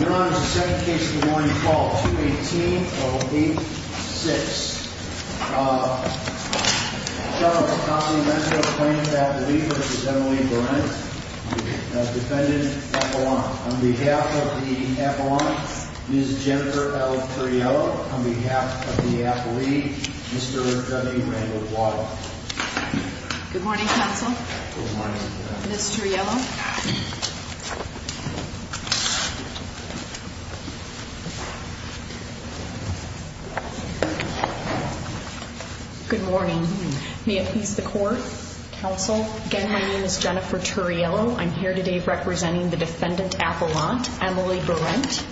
Your Honor, the second case of the morning, call 218-08-6. Uh, felon of the county measure of plaintiff's affidavit v. Emily Berendt, defendant, apollon. On behalf of the apollon, Ms. Jennifer L. Turriello. On behalf of the affidavit, Mr. W. Randall Blatt. Good morning, counsel. Good morning. Ms. Turriello. Good morning. May it please the court, counsel. Again, my name is Jennifer Turriello. I'm here today representing the defendant, apollon, Emily Berendt.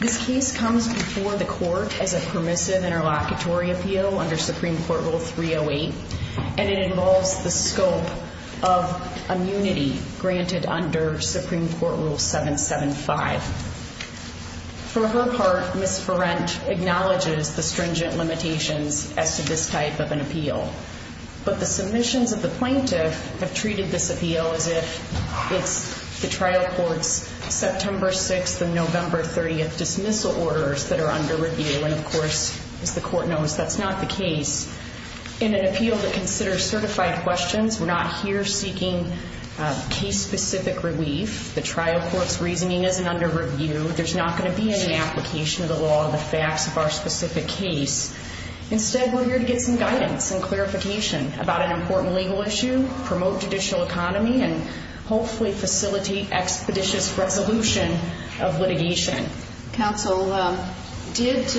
This case comes before the court as a permissive interlocutory appeal under Supreme Court Rule 308. And it involves the scope of immunity granted under Supreme Court Rule 775. For her part, Ms. Berendt acknowledges the stringent limitations as to this type of an appeal. But the submissions of the plaintiff have treated this appeal as if it's the trial court's September 6th and November 30th dismissal orders that are under review. And, of course, as the court knows, that's not the case. In an appeal that considers certified questions, we're not here seeking case-specific relief. The trial court's reasoning isn't under review. There's not going to be any application of the law or the facts of our specific case. Instead, we're here to get some guidance and clarification about an important legal issue, promote judicial economy, and hopefully facilitate expeditious resolution of litigation. Counsel, did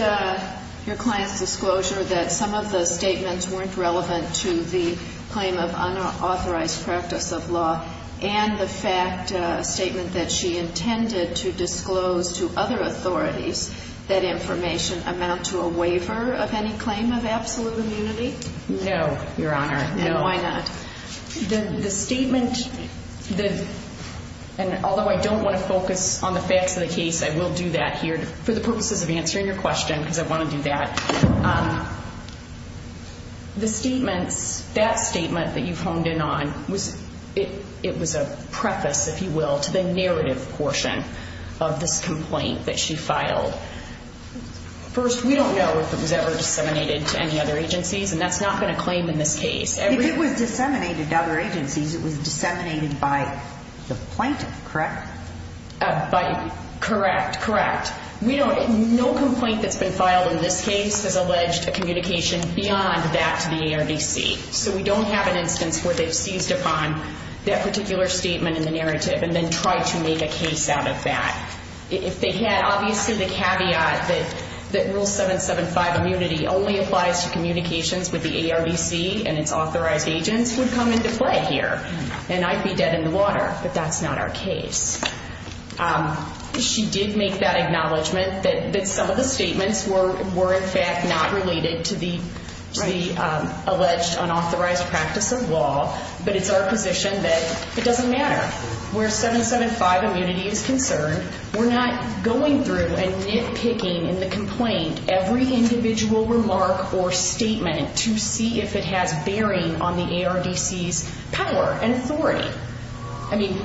your client's disclosure that some of the statements weren't relevant to the claim of unauthorized practice of law and the fact statement that she intended to disclose to other authorities that information amount to a waiver of any claim of absolute immunity? No, Your Honor. And why not? The statement, and although I don't want to focus on the facts of the case, I will do that here for the purposes of answering your question because I want to do that. The statements, that statement that you've honed in on, it was a preface, if you will, to the narrative portion of this complaint that she filed. First, we don't know if it was ever disseminated to any other agencies, and that's not going to claim in this case. If it was disseminated to other agencies, it was disseminated by the plaintiff, correct? Correct, correct. No complaint that's been filed in this case has alleged a communication beyond that to the ARDC, so we don't have an instance where they've seized upon that particular statement in the narrative and then tried to make a case out of that. If they had, obviously, the caveat that Rule 775 immunity only applies to communications with the ARDC and its authorized agents would come into play here, and I'd be dead in the water, but that's not our case. She did make that acknowledgment that some of the statements were in fact not related to the alleged unauthorized practice of law, but it's our position that it doesn't matter. Where 775 immunity is concerned, we're not going through and nitpicking in the complaint every individual remark or statement to see if it has bearing on the ARDC's power and authority. I mean,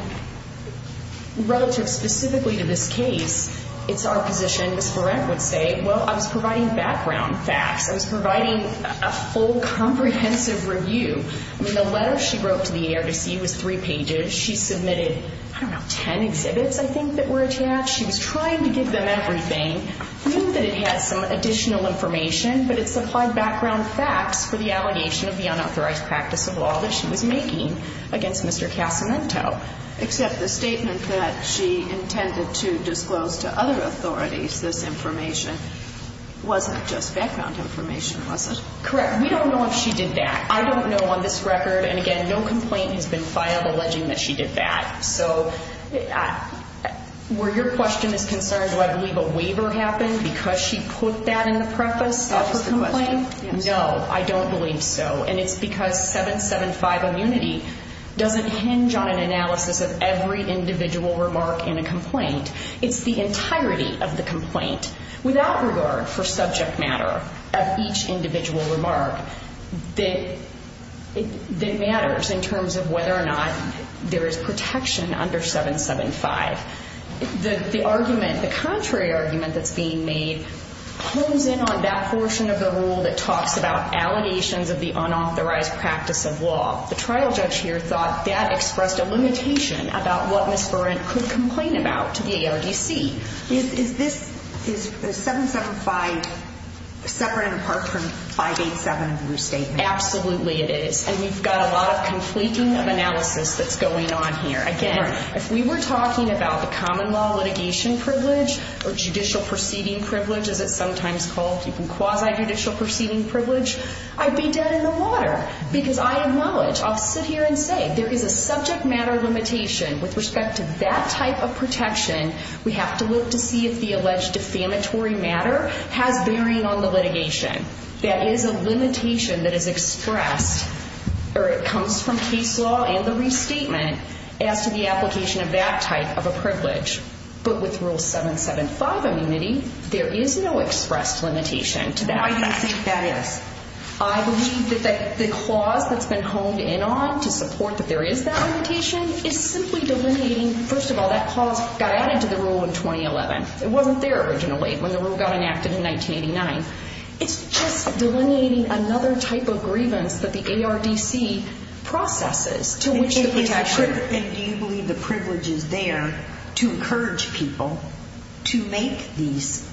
relative specifically to this case, it's our position, as Lorette would say, well, I was providing background facts. I was providing a full comprehensive review. I mean, the letter she wrote to the ARDC was three pages. She submitted, I don't know, 10 exhibits, I think, that were attached. She was trying to give them everything. I think that it had some additional information, but it supplied background facts for the allegation of the unauthorized practice of law that she was making against Mr. Casamento. Except the statement that she intended to disclose to other authorities this information wasn't just background information, was it? Correct. We don't know if she did that. I don't know on this record, and again, no complaint has been filed alleging that she did that. So where your question is concerned, do I believe a waiver happened because she put that in the preface of her complaint? No, I don't believe so. And it's because 775 immunity doesn't hinge on an analysis of every individual remark in a complaint. It's the entirety of the complaint without regard for subject matter of each individual remark that matters in terms of whether or not there is protection under 775. The argument, the contrary argument that's being made hones in on that portion of the rule that talks about allegations of the unauthorized practice of law. The trial judge here thought that expressed a limitation about what Ms. Barrett could complain about to the ARDC. Is this, is 775 separate and apart from 587 of your statement? Absolutely it is. And we've got a lot of completing of analysis that's going on here. Again, if we were talking about the common law litigation privilege or judicial proceeding privilege as it's sometimes called, even quasi-judicial proceeding privilege, I'd be dead in the water because I acknowledge, I'll sit here and say there is a subject matter limitation with respect to that type of protection. We have to look to see if the alleged defamatory matter has bearing on the litigation. That is a limitation that is expressed or it comes from case law and the restatement as to the application of that type of a privilege. But with rule 775 immunity, there is no expressed limitation to that fact. I think that is. I believe that the clause that's been honed in on to support that there is that limitation is simply delineating, first of all, that clause got added to the rule in 2011. It wasn't there originally when the rule got enacted in 1989. It's just delineating another type of grievance that the ARDC processes to which the protection. And do you believe the privilege is there to encourage people to make these,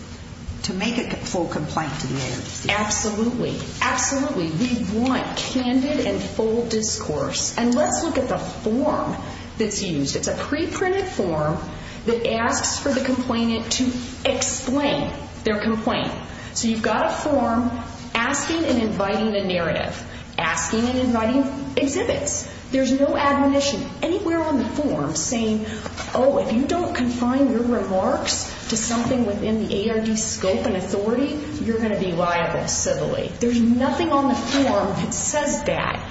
to make a full complaint to the ARDC? Absolutely. Absolutely. We want candid and full discourse. And let's look at the form that's used. It's a preprinted form that asks for the complainant to explain their complaint. So you've got a form asking and inviting a narrative, asking and inviting exhibits. There's no admonition anywhere on the form saying, oh, if you don't confine your remarks to something within the ARDC scope and authority, you're going to be liable civilly. There's nothing on the form that says that.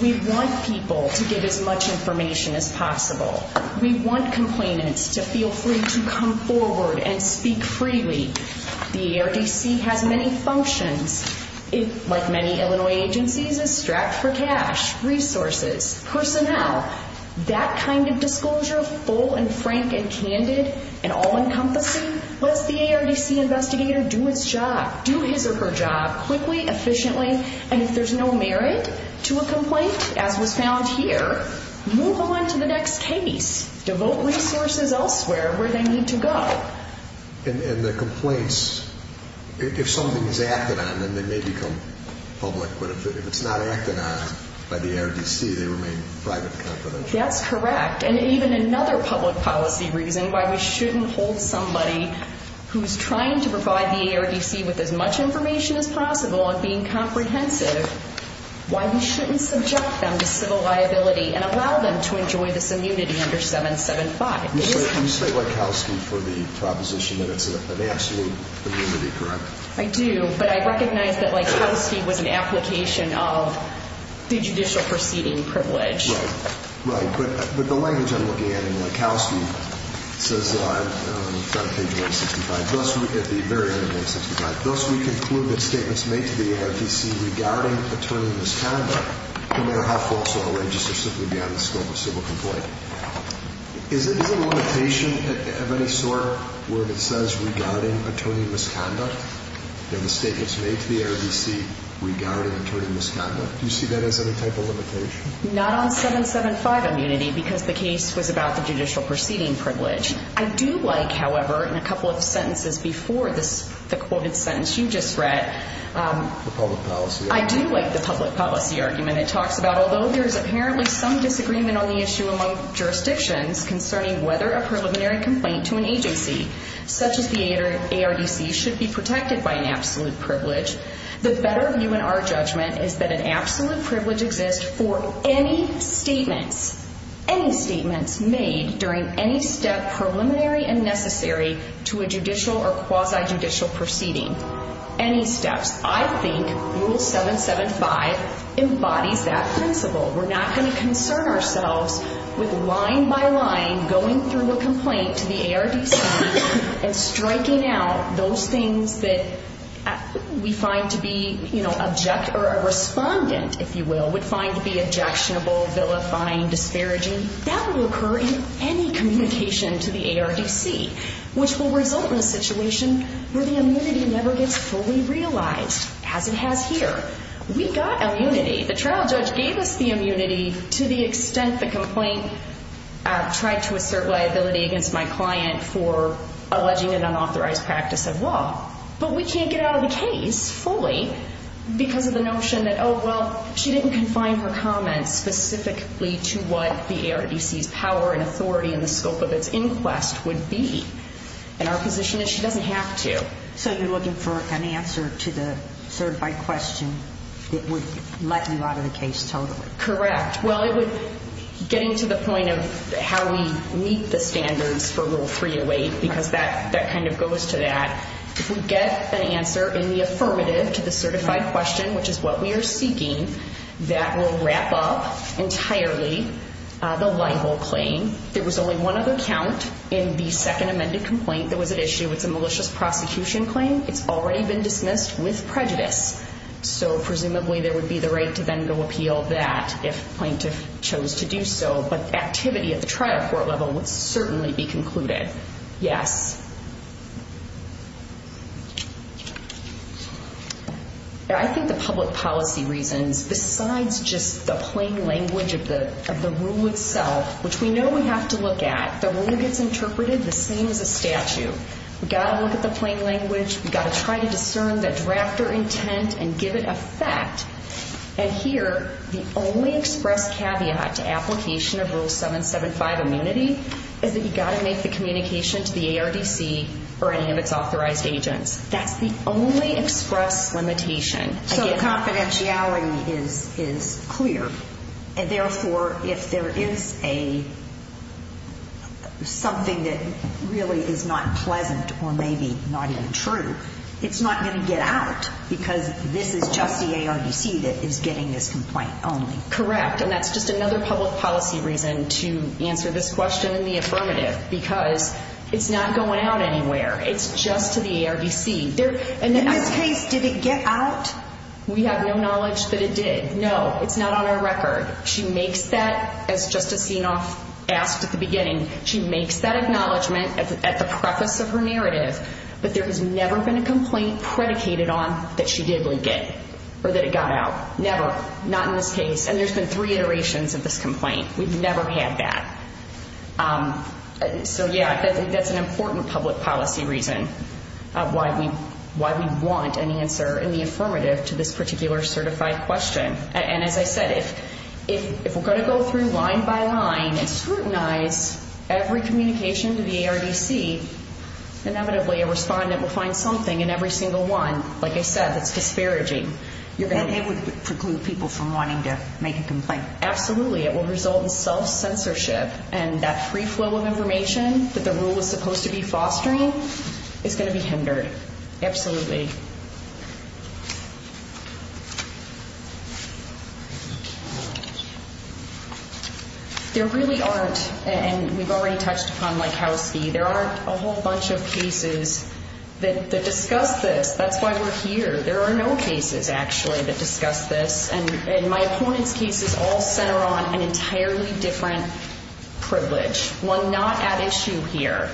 We want people to get as much information as possible. We want complainants to feel free to come forward and speak freely. The ARDC has many functions. Like many Illinois agencies, it's strapped for cash, resources, personnel. That kind of disclosure, full and frank and candid and all-encompassing, lets the ARDC investigator do his job, do his or her job quickly, efficiently. And if there's no merit to a complaint, as was found here, move on to the next case. Devote resources elsewhere where they need to go. And the complaints, if something is acted on, then they may become public. But if it's not acted on by the ARDC, they remain private and confidential. That's correct. And even another public policy reason why we shouldn't hold somebody who's trying to provide the ARDC with as much information as possible and being comprehensive, why we shouldn't subject them to civil liability and allow them to enjoy this immunity under 775. You state Wachowski for the proposition that it's an absolute immunity, correct? I do, but I recognize that Wachowski was an application of the judicial proceeding privilege. Right. Right. But the language I'm looking at in Wachowski says on page 865, at the very end of 865, thus we conclude that statements made to the ARDC regarding attorneyless conduct, no matter how false or outrageous, are simply beyond the scope of civil complaint. Is there a limitation of any sort where it says regarding attorneyless conduct? The statements made to the ARDC regarding attorneyless conduct. Do you see that as any type of limitation? Not on 775 immunity because the case was about the judicial proceeding privilege. I do like, however, in a couple of sentences before the quoted sentence you just read. The public policy argument. It talks about although there is apparently some disagreement on the issue among jurisdictions concerning whether a preliminary complaint to an agency such as the ARDC should be protected by an absolute privilege, the better view in our judgment is that an absolute privilege exists for any statements, any statements made during any step preliminary and necessary to a judicial or quasi-judicial proceeding. Any steps. I think Rule 775 embodies that principle. We're not going to concern ourselves with line by line going through a complaint to the ARDC and striking out those things that we find to be, you know, object or a respondent, if you will, would find to be objectionable, vilifying, disparaging. That will occur in any communication to the ARDC, which will result in a situation where the immunity never gets fully realized, as it has here. We got immunity. The trial judge gave us the immunity to the extent the complaint tried to assert liability against my client for alleging an unauthorized practice of law. But we can't get out of the case fully because of the notion that, oh, well, she didn't confine her comments specifically to what the ARDC's power and authority in the scope of its inquest would be. And our position is she doesn't have to. So you're looking for an answer to the certified question that would let you out of the case totally. Correct. Getting to the point of how we meet the standards for Rule 308, because that kind of goes to that. If we get an answer in the affirmative to the certified question, which is what we are seeking, that will wrap up entirely the libel claim. There was only one other count in the second amended complaint that was at issue. It's a malicious prosecution claim. It's already been dismissed with prejudice. So presumably there would be the right to then go appeal that if plaintiff chose to do so. But activity at the trial court level would certainly be concluded. Yes. I think the public policy reasons, besides just the plain language of the rule itself, which we know we have to look at, the rule gets interpreted the same as a statute. We've got to look at the plain language. We've got to try to discern the drafter intent and give it a fact. And here, the only express caveat to application of Rule 775 immunity is that you've got to make the communication to the ARDC or any of its authorized agents. That's the only express limitation. So confidentiality is clear. And therefore, if there is something that really is not pleasant or maybe not even true, it's not going to get out because this is just the ARDC that is getting this complaint only. Correct. And that's just another public policy reason to answer this question in the affirmative because it's not going out anywhere. It's just to the ARDC. In this case, did it get out? We have no knowledge that it did. No, it's not on our record. She makes that, as Justice Senoff asked at the beginning, she makes that acknowledgement at the preface of her narrative, but there has never been a complaint predicated on that she did leak it or that it got out. Never. Not in this case. And there's been three iterations of this complaint. We've never had that. So, yeah, that's an important public policy reason why we want an answer in the affirmative to this particular certified question. And as I said, if we're going to go through line by line and scrutinize every communication to the ARDC, inevitably a respondent will find something in every single one, like I said, that's disparaging. And it would preclude people from wanting to make a complaint. Absolutely. It will result in self-censorship. And that free flow of information that the rule is supposed to be fostering is going to be hindered. Absolutely. There really aren't, and we've already touched upon Likowski, there aren't a whole bunch of cases that discuss this. That's why we're here. There are no cases, actually, that discuss this. And my opponents' cases all center on an entirely different privilege, one not at issue here.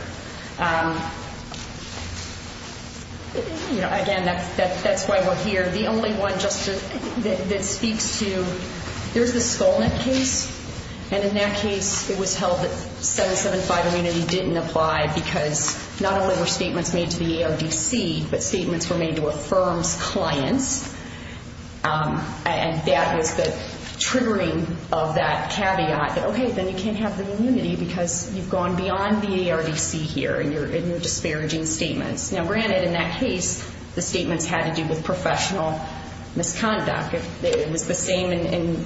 Again, that's why we're here. The only one that speaks to, there's the Skolnick case, and in that case it was held that 775 immunity didn't apply because not only were statements made to the ARDC, but statements were made to a firm's clients. And that was the triggering of that caveat that, okay, then you can't have the immunity because you've gone beyond the ARDC here and you're disparaging statements. Now, granted, in that case, the statements had to do with professional misconduct. It was the same in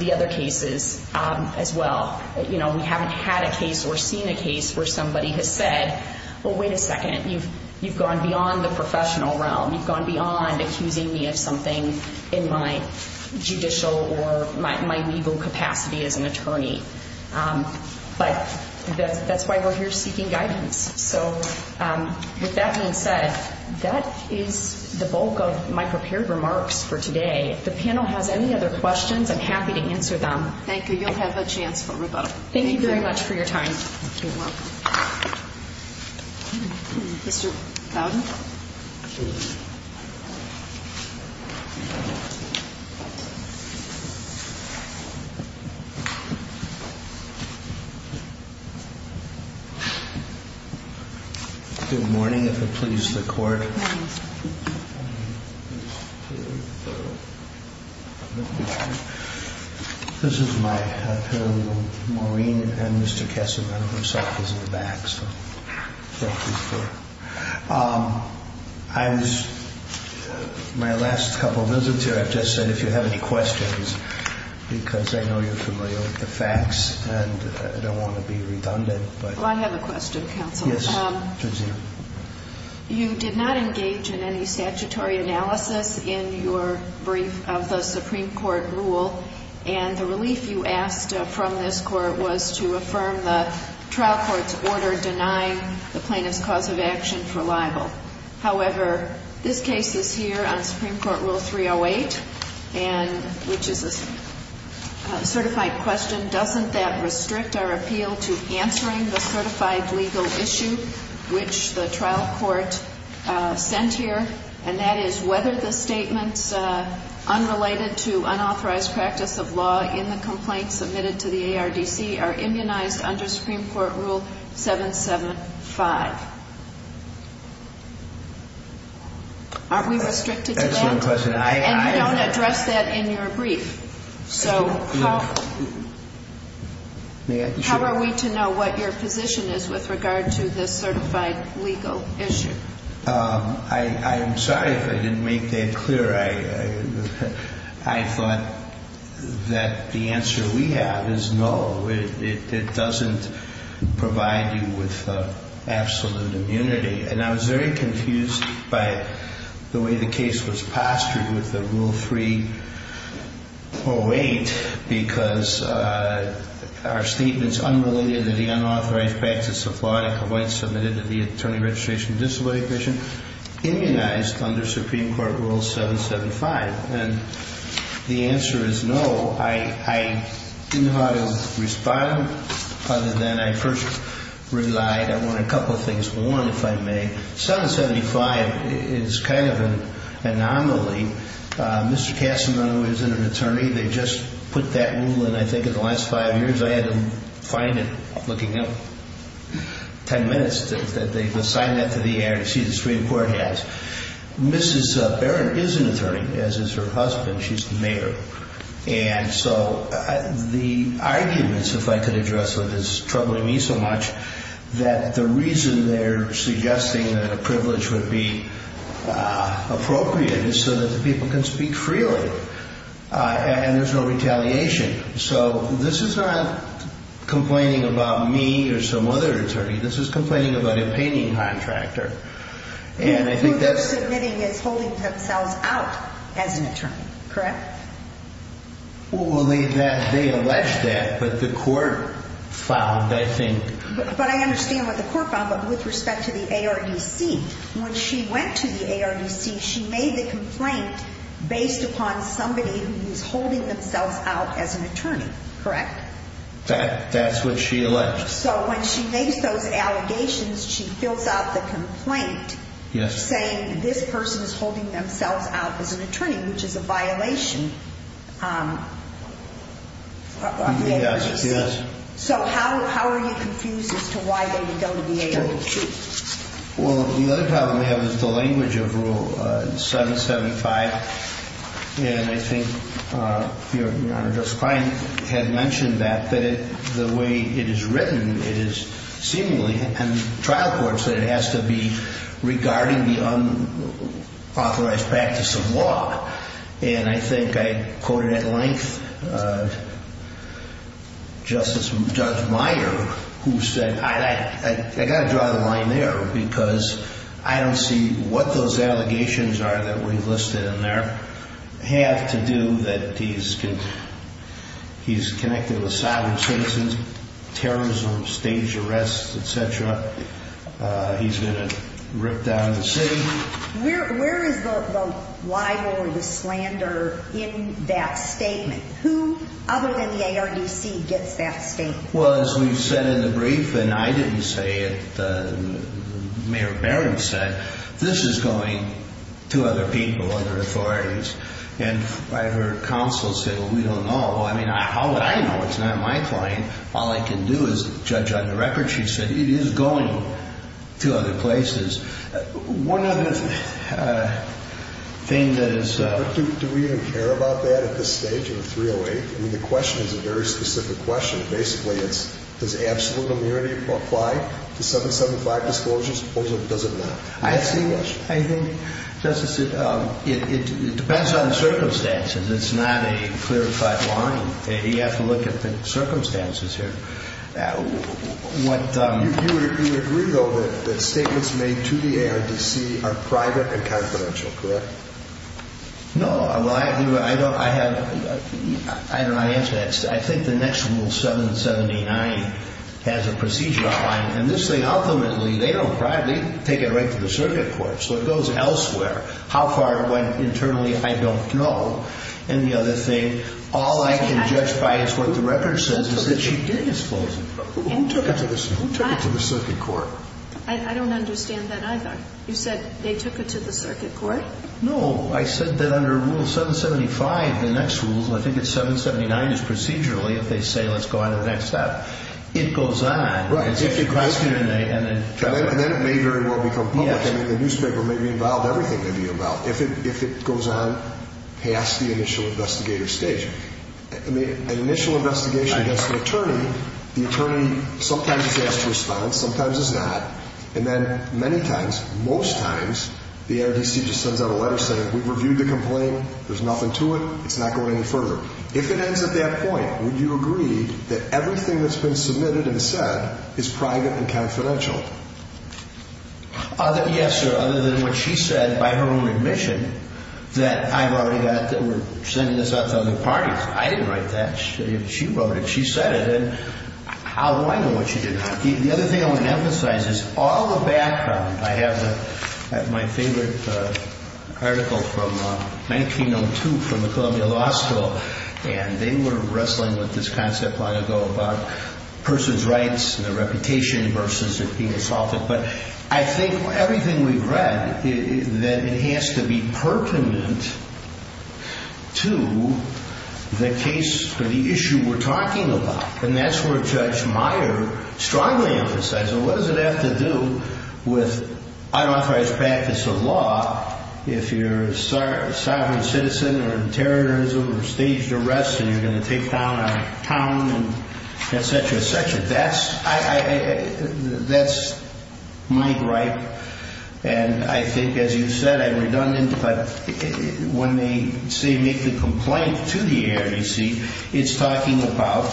the other cases as well. We haven't had a case or seen a case where somebody has said, well, wait a second, you've gone beyond the professional realm. You've gone beyond accusing me of something in my judicial or my legal capacity as an attorney. But that's why we're here seeking guidance. So with that being said, that is the bulk of my prepared remarks for today. If the panel has any other questions, I'm happy to answer them. Thank you. You'll have a chance for rebuttal. Thank you very much for your time. You're welcome. Mr. Fowden. Good morning, if it pleases the Court. Good morning. This is my panel. Maureen and Mr. Kessler, myself, is in the back, so thank you for that. My last couple of visits here, I've just said, if you have any questions, because I know you're familiar with the facts and I don't want to be redundant. Well, I have a question, counsel. Yes, please do. You did not engage in any statutory analysis in your brief of the Supreme Court rule, and the relief you asked from this Court was to affirm the trial court's order denying the plaintiff's cause of action for libel. However, this case is here on Supreme Court Rule 308, which is a certified question. Doesn't that restrict our appeal to answering the certified legal issue which the trial court sent here, and that is whether the statements unrelated to unauthorized practice of law in the complaint submitted to the ARDC are immunized under Supreme Court Rule 775? Aren't we restricted to that? Excellent question. And you don't address that in your brief. So how are we to know what your position is with regard to this certified legal issue? I'm sorry if I didn't make that clear. I thought that the answer we have is no. It doesn't provide you with absolute immunity. And I was very confused by the way the case was pastored with the Rule 308 because our statements unrelated to the unauthorized practice of law in a complaint submitted to the Attorney Registration Disability Commission immunized under Supreme Court Rule 775. And the answer is no. I didn't know how to respond other than I first relied on a couple of things. One, if I may, 775 is kind of an anomaly. Mr. Cassano is an attorney. They just put that rule in, I think, in the last five years. I had to find it looking up ten minutes that they assigned that to the ARDC. The Supreme Court has. Mrs. Barron is an attorney, as is her husband. She's the mayor. And so the arguments, if I could address what is troubling me so much, that the reason they're suggesting that a privilege would be appropriate is so that the people can speak freely and there's no retaliation. So this is not complaining about me or some other attorney. This is complaining about a painting contractor. What they're submitting is holding themselves out as an attorney. Correct? Well, they alleged that, but the court found, I think. But I understand what the court found, but with respect to the ARDC, when she went to the ARDC, she made the complaint based upon somebody who is holding themselves out as an attorney. Correct? That's what she alleged. So when she makes those allegations, she fills out the complaint saying this person is holding themselves out as an attorney, which is a violation of the ARDC. Yes. So how are you confused as to why they would go to the ARDC? Well, the other problem we have is the language of Rule 775. And I think Your Honor, Justice Klein had mentioned that, that the way it is written, it is seemingly in trial courts that it has to be regarding the unauthorized practice of law. And I think I quoted at length Justice Judge Meyer, who said, I got to draw the line there because I don't see what those allegations are that we listed in there have to do that he's connected with silent citizens, terrorism, staged arrests, et cetera. He's going to rip down the city. Where is the libel or the slander in that statement? Who other than the ARDC gets that statement? Well, as we've said in the brief, and I didn't say it, Mayor Barron said, this is going to other people, other authorities. And I heard counsel say, well, we don't know. I mean, how would I know? It's not my claim. All I can do is judge on the record. She said it is going to other places. One other thing that is... Do we even care about that at this stage in the 308? I mean, the question is a very specific question. Basically, it's does absolute immunity apply to 775 disclosures or does it not? I think, Justice, it depends on the circumstances. It's not a clarified line. You have to look at the circumstances here. You agree, though, that the statements made to the ARDC are private and confidential, correct? No. I don't know how to answer that. I think the next rule, 779, has a procedure on it. And this thing, ultimately, they don't privately take it right to the circuit court, so it goes elsewhere. How far it went internally, I don't know. And the other thing, all I can judge by is what the record says is that she did disclose it. Who took it to the circuit court? I don't understand that either. You said they took it to the circuit court? No. I said that under Rule 775, the next rule, I think it's 779, is procedurally, if they say let's go on to the next step, it goes on. Right. And then it may very well become public. I mean, the newspaper may be involved, everything may be involved, if it goes on past the initial investigator stage. I mean, an initial investigation against an attorney, the attorney sometimes is asked to respond, sometimes is not. And then many times, most times, the NRDC just sends out a letter saying we've reviewed the complaint, there's nothing to it, it's not going any further. If it ends at that point, would you agree that everything that's been submitted and said is private and confidential? Yes, sir, other than what she said by her own admission that I've already got, that we're sending this out to other parties. I didn't write that. She wrote it. She said it. And how do I know what she did? The other thing I want to emphasize is all the background. I have my favorite article from 1902 from the Columbia Law School, and they were wrestling with this concept long ago about a person's rights and their reputation versus it being assaulted. But I think everything we've read, that it has to be pertinent to the case or the issue we're talking about. And that's where Judge Meyer strongly emphasized it. What does it have to do with unauthorized practice of law if you're a sovereign citizen or in terrorism or staged arrest and you're going to take down a town and et cetera, et cetera? That's my gripe. And I think, as you said, I'm redundant, but when they say make the complaint to the ARDC, it's talking about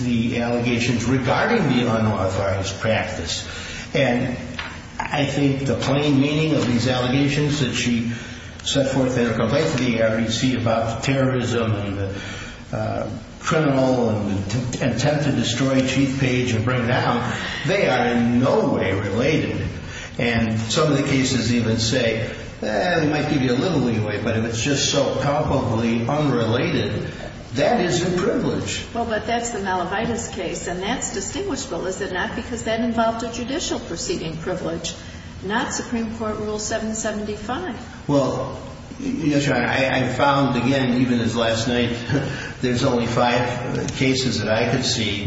the allegations regarding the unauthorized practice. And I think the plain meaning of these allegations that she set forth in her complaint to the ARDC about terrorism and the criminal and the attempt to destroy Chief Page and bring him down, they are in no way related. And some of the cases even say, well, it might give you a little leeway, but if it's just so palpably unrelated, that isn't privilege. Well, but that's the Malavitas case, and that's distinguishable, is it not, because that involved a judicial proceeding privilege, not Supreme Court Rule 775. Well, Your Honor, I found, again, even as last night, there's only five cases that I could see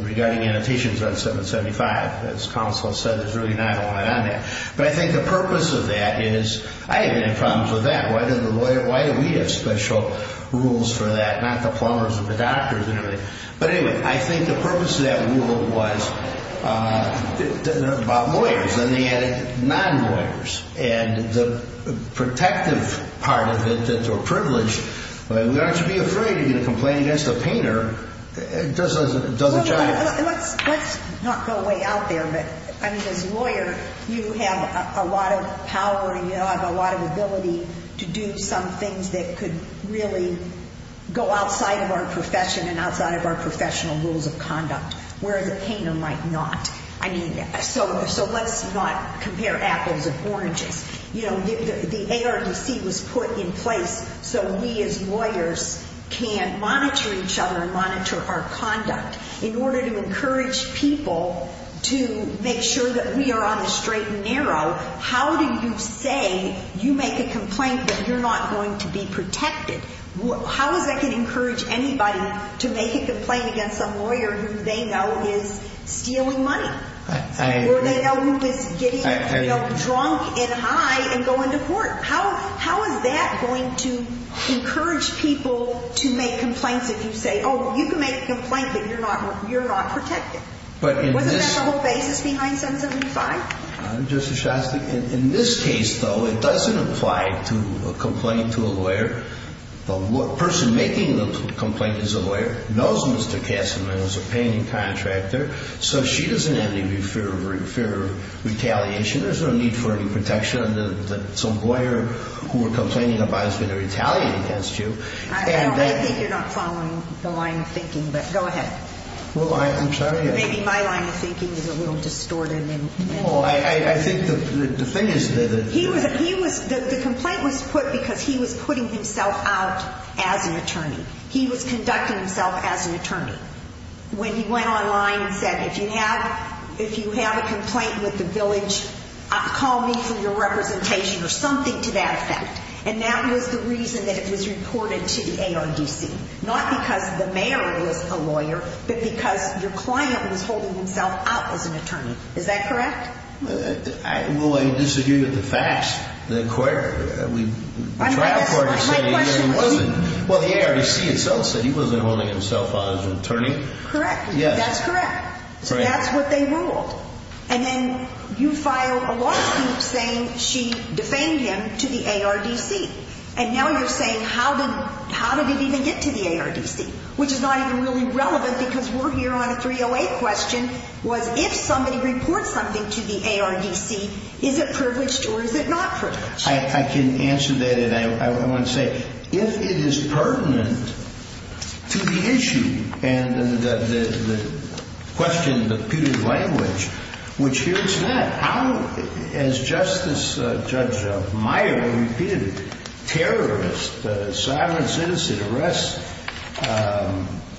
regarding annotations on 775. As counsel has said, there's really not a lot on there. But I think the purpose of that is I haven't had problems with that. Why do we have special rules for that, not the plumbers or the doctors or anything? But anyway, I think the purpose of that rule was about lawyers, and they added non-lawyers. And the protective part of it, that they're privileged, we aren't to be afraid to get a complaint against a painter. Let's not go way out there. But, I mean, as a lawyer, you have a lot of power and you have a lot of ability to do some things that could really go outside of our profession and outside of our professional rules of conduct, whereas a painter might not. I mean, so let's not compare apples and oranges. You know, the ARPC was put in place so we as lawyers can monitor each other and monitor our conduct. In order to encourage people to make sure that we are on a straight and narrow, how do you say you make a complaint that you're not going to be protected? How is that going to encourage anybody to make a complaint against some lawyer who they know is stealing money? Or they know who is getting drunk and high and going to court? How is that going to encourage people to make complaints if you say, oh, you can make a complaint, but you're not protected? Wasn't that the whole basis behind 775? Justice Shostak, in this case, though, it doesn't apply to a complaint to a lawyer. The person making the complaint is a lawyer, knows Mr. Kasserman is a painting contractor, so she doesn't have any fear of retaliation. There's no need for any protection. Some lawyer who we're complaining about is going to retaliate against you. I know. I think you're not following the line of thinking, but go ahead. Well, I'm sorry. Maybe my line of thinking is a little distorted. Well, I think the thing is that... The complaint was put because he was putting himself out as an attorney. He was conducting himself as an attorney. When he went online and said, if you have a complaint with the village, call me for your representation or something to that effect. And that was the reason that it was reported to the ARDC. Not because the mayor is a lawyer, but because your client was holding himself out as an attorney. Is that correct? Well, I disagree with the facts. Well, the ARDC itself said he wasn't holding himself out as an attorney. Correct. That's correct. So that's what they ruled. And then you filed a lawsuit saying she defamed him to the ARDC. And now you're saying, how did it even get to the ARDC? Which is not even really relevant because we're here on a 308 question, was if somebody reports something to the ARDC, is it privileged or is it not privileged? I can answer that, and I want to say, if it is pertinent to the issue and the question, the putative language, which here's that. As Justice Judge Meyer repeated, terrorist, a sovereign citizen, arrest,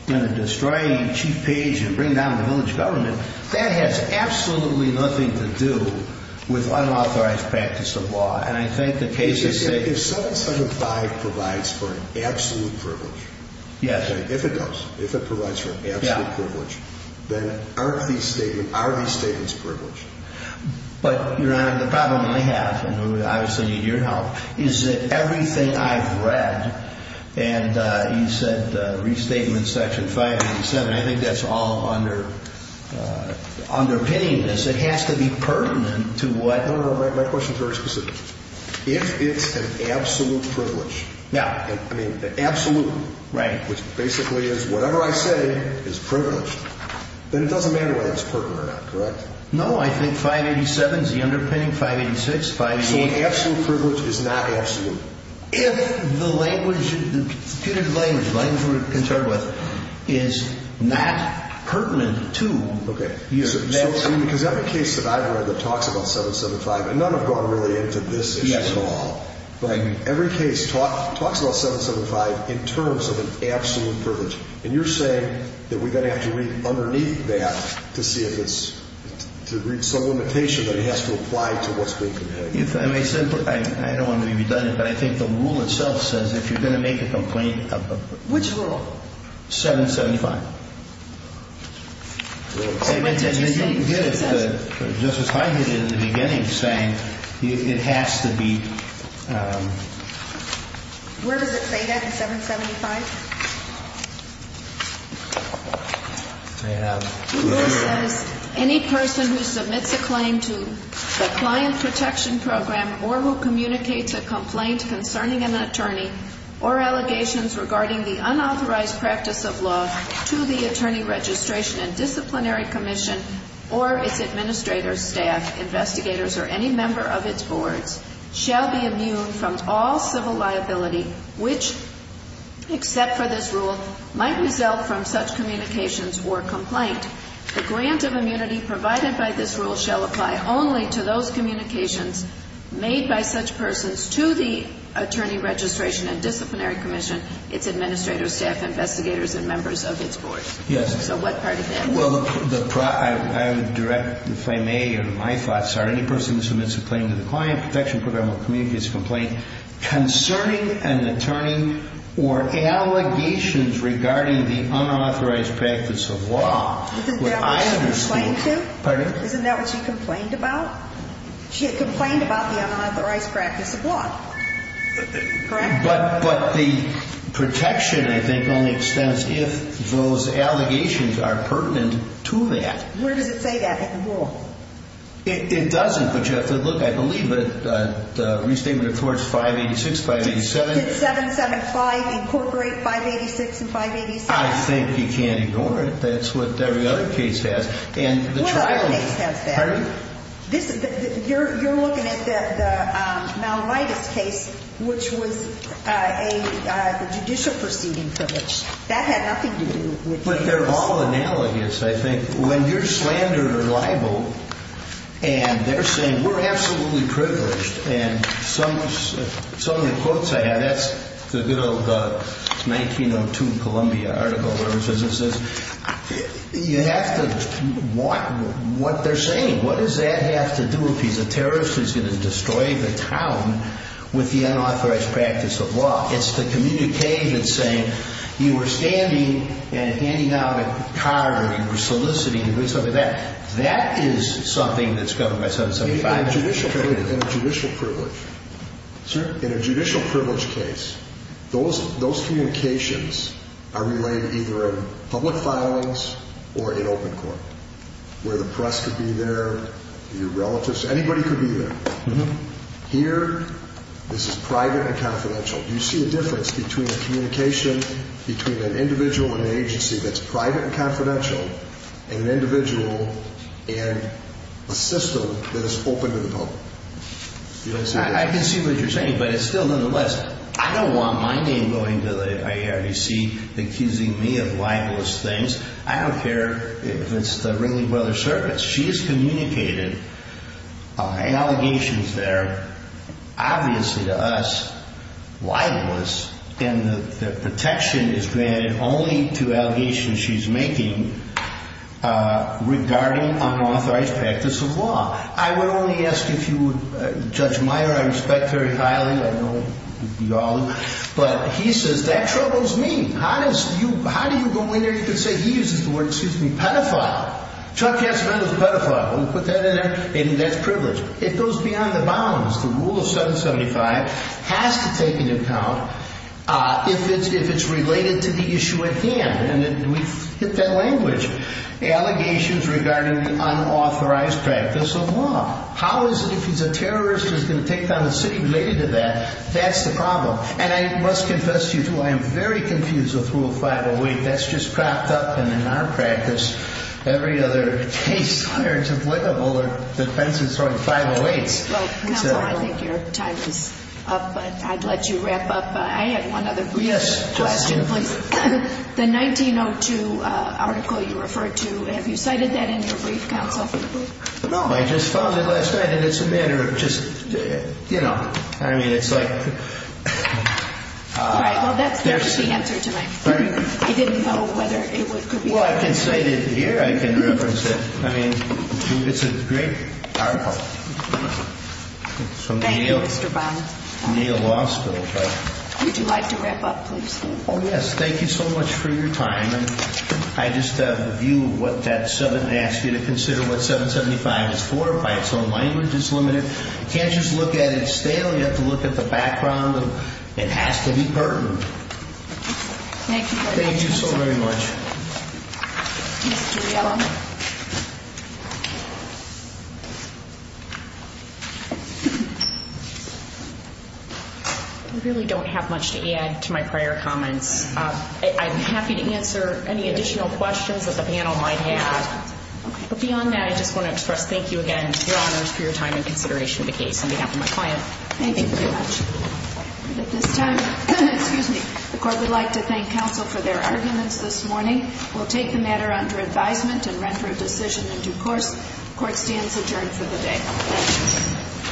destroy Chief Page and bring down the village government, that has absolutely nothing to do with unauthorized practice of law. And I think the case is safe. If 775 provides for absolute privilege. Yes. If it does, if it provides for absolute privilege, then are these statements privileged? But, Your Honor, the problem I have, and I obviously need your help, is that everything I've read, and you said restatement section 587, I think that's all underpinning this. It has to be pertinent to what? No, no, no, my question is very specific. If it's an absolute privilege. Yeah. I mean, absolute. Right. Which basically is whatever I say is privileged. Then it doesn't matter whether it's pertinent or not, correct? No, I think 587 is the underpinning, 586, 588. So an absolute privilege is not absolute. If the language, the putative language, the language we're concerned with, is not pertinent to you. Okay. Because every case that I've read that talks about 775, and none have gone really into this issue at all, but every case talks about 775 in terms of an absolute privilege. And you're saying that we're going to have to read underneath that to see if it's, to read some limitation that it has to apply to what's being complained. If I may simply, I don't want to be redundant, but I think the rule itself says if you're going to make a complaint. Which rule? 775. What did you say? I think we did it, but Justice Hyman did it in the beginning saying it has to be. Where does it say that in 775? I have. The rule says any person who submits a claim to the Client Protection Program, or who communicates a complaint concerning an attorney, or allegations regarding the unauthorized practice of law to the Attorney Registration and Disciplinary Commission, or its administrators, staff, investigators, or any member of its boards, shall be immune from all civil liability, which, except for this rule, might result from such communications or complaint. The grant of immunity provided by this rule shall apply only to those communications made by such persons to the Attorney Registration and Disciplinary Commission, its administrators, staff, investigators, and members of its boards. Yes. So what part of that? Well, I would direct, if I may, or my thoughts are any person who submits a claim to the Client Protection Program or communicates a complaint concerning an attorney or allegations regarding the unauthorized practice of law. Isn't that what she complained to? Pardon? Isn't that what she complained about? She had complained about the unauthorized practice of law. Correct? But the protection, I think, only extends if those allegations are pertinent to that. Where does it say that in the rule? It doesn't, but you have to look. I believe it. Restatement of Torts 586, 587. Did 775 incorporate 586 and 587? I think you can't ignore it. That's what every other case has. What other case has that? Pardon? You're looking at the malvitis case, which was a judicial proceeding from which that had nothing to do with the case. But they're all analogous, I think. When you're slandered or libeled and they're saying, we're absolutely privileged, and some of the quotes I have, that's the good old 1902 Columbia article or whatever it says, you have to watch what they're saying. What does that have to do if he's a terrorist who's going to destroy the town with the unauthorized practice of law? It's the communication saying you were standing and handing out a card or you were soliciting or something like that. That is something that's governed by 775. In a judicial privilege case, those communications are relayed either in public filings or in open court, where the press could be there, your relatives, anybody could be there. Here, this is private and confidential. Do you see a difference between a communication between an individual and an agency that's private and confidential and an individual and a system that is open to the public? I can see what you're saying, but it's still on the list. I don't want my name going to the IRDC accusing me of libelous things. I don't care if it's the Ringling Brother Circus. She has communicated allegations there, obviously to us, libelous, and the protection is granted only to allegations she's making regarding unauthorized practice of law. I would only ask if you would, Judge Meyer, I respect very highly. I know you all do. But he says that troubles me. How do you go in there? You could say he uses the word pedophile. Chuck Yasmin is a pedophile. When you put that in there, that's privilege. It goes beyond the bounds. The rule of 775 has to take into account, if it's related to the issue at hand, and we've hit that language, allegations regarding unauthorized practice of law. How is it, if he's a terrorist, he's going to take down a city related to that? That's the problem. And I must confess to you, too, I am very confused with Rule 508. That's just propped up. And in our practice, every other case under defense is sort of 508. Counsel, I think your time is up, but I'd let you wrap up. I have one other brief question, please. The 1902 article you referred to, have you cited that in your brief, Counsel? No. I just found it last night, and it's a matter of just, you know, I mean, it's like... All right. Well, that's the answer to my question. He didn't know whether it could be... Well, I can cite it here. I can reference it. I mean, it's a great article. Thank you, Mr. Bond. From the Yale Law School. Would you like to wrap up, please? Oh, yes. Thank you so much for your time. And I just have a view of what that 7 asks you to consider what 775 is for. By its own language, it's limited. You can't just look at it stale. You have to look at the background of it has to be pertinent. Thank you for your time. Thank you so very much. Mr. Yellow. I really don't have much to add to my prior comments. I'm happy to answer any additional questions that the panel might have. But beyond that, I just want to express thank you again, Your Honors, for your time and consideration of the case on behalf of my client. Thank you. Thank you very much. At this time, the Court would like to thank counsel for their arguments this morning. We'll take the matter under advisement and render a decision in due course. Court stands adjourned for the day.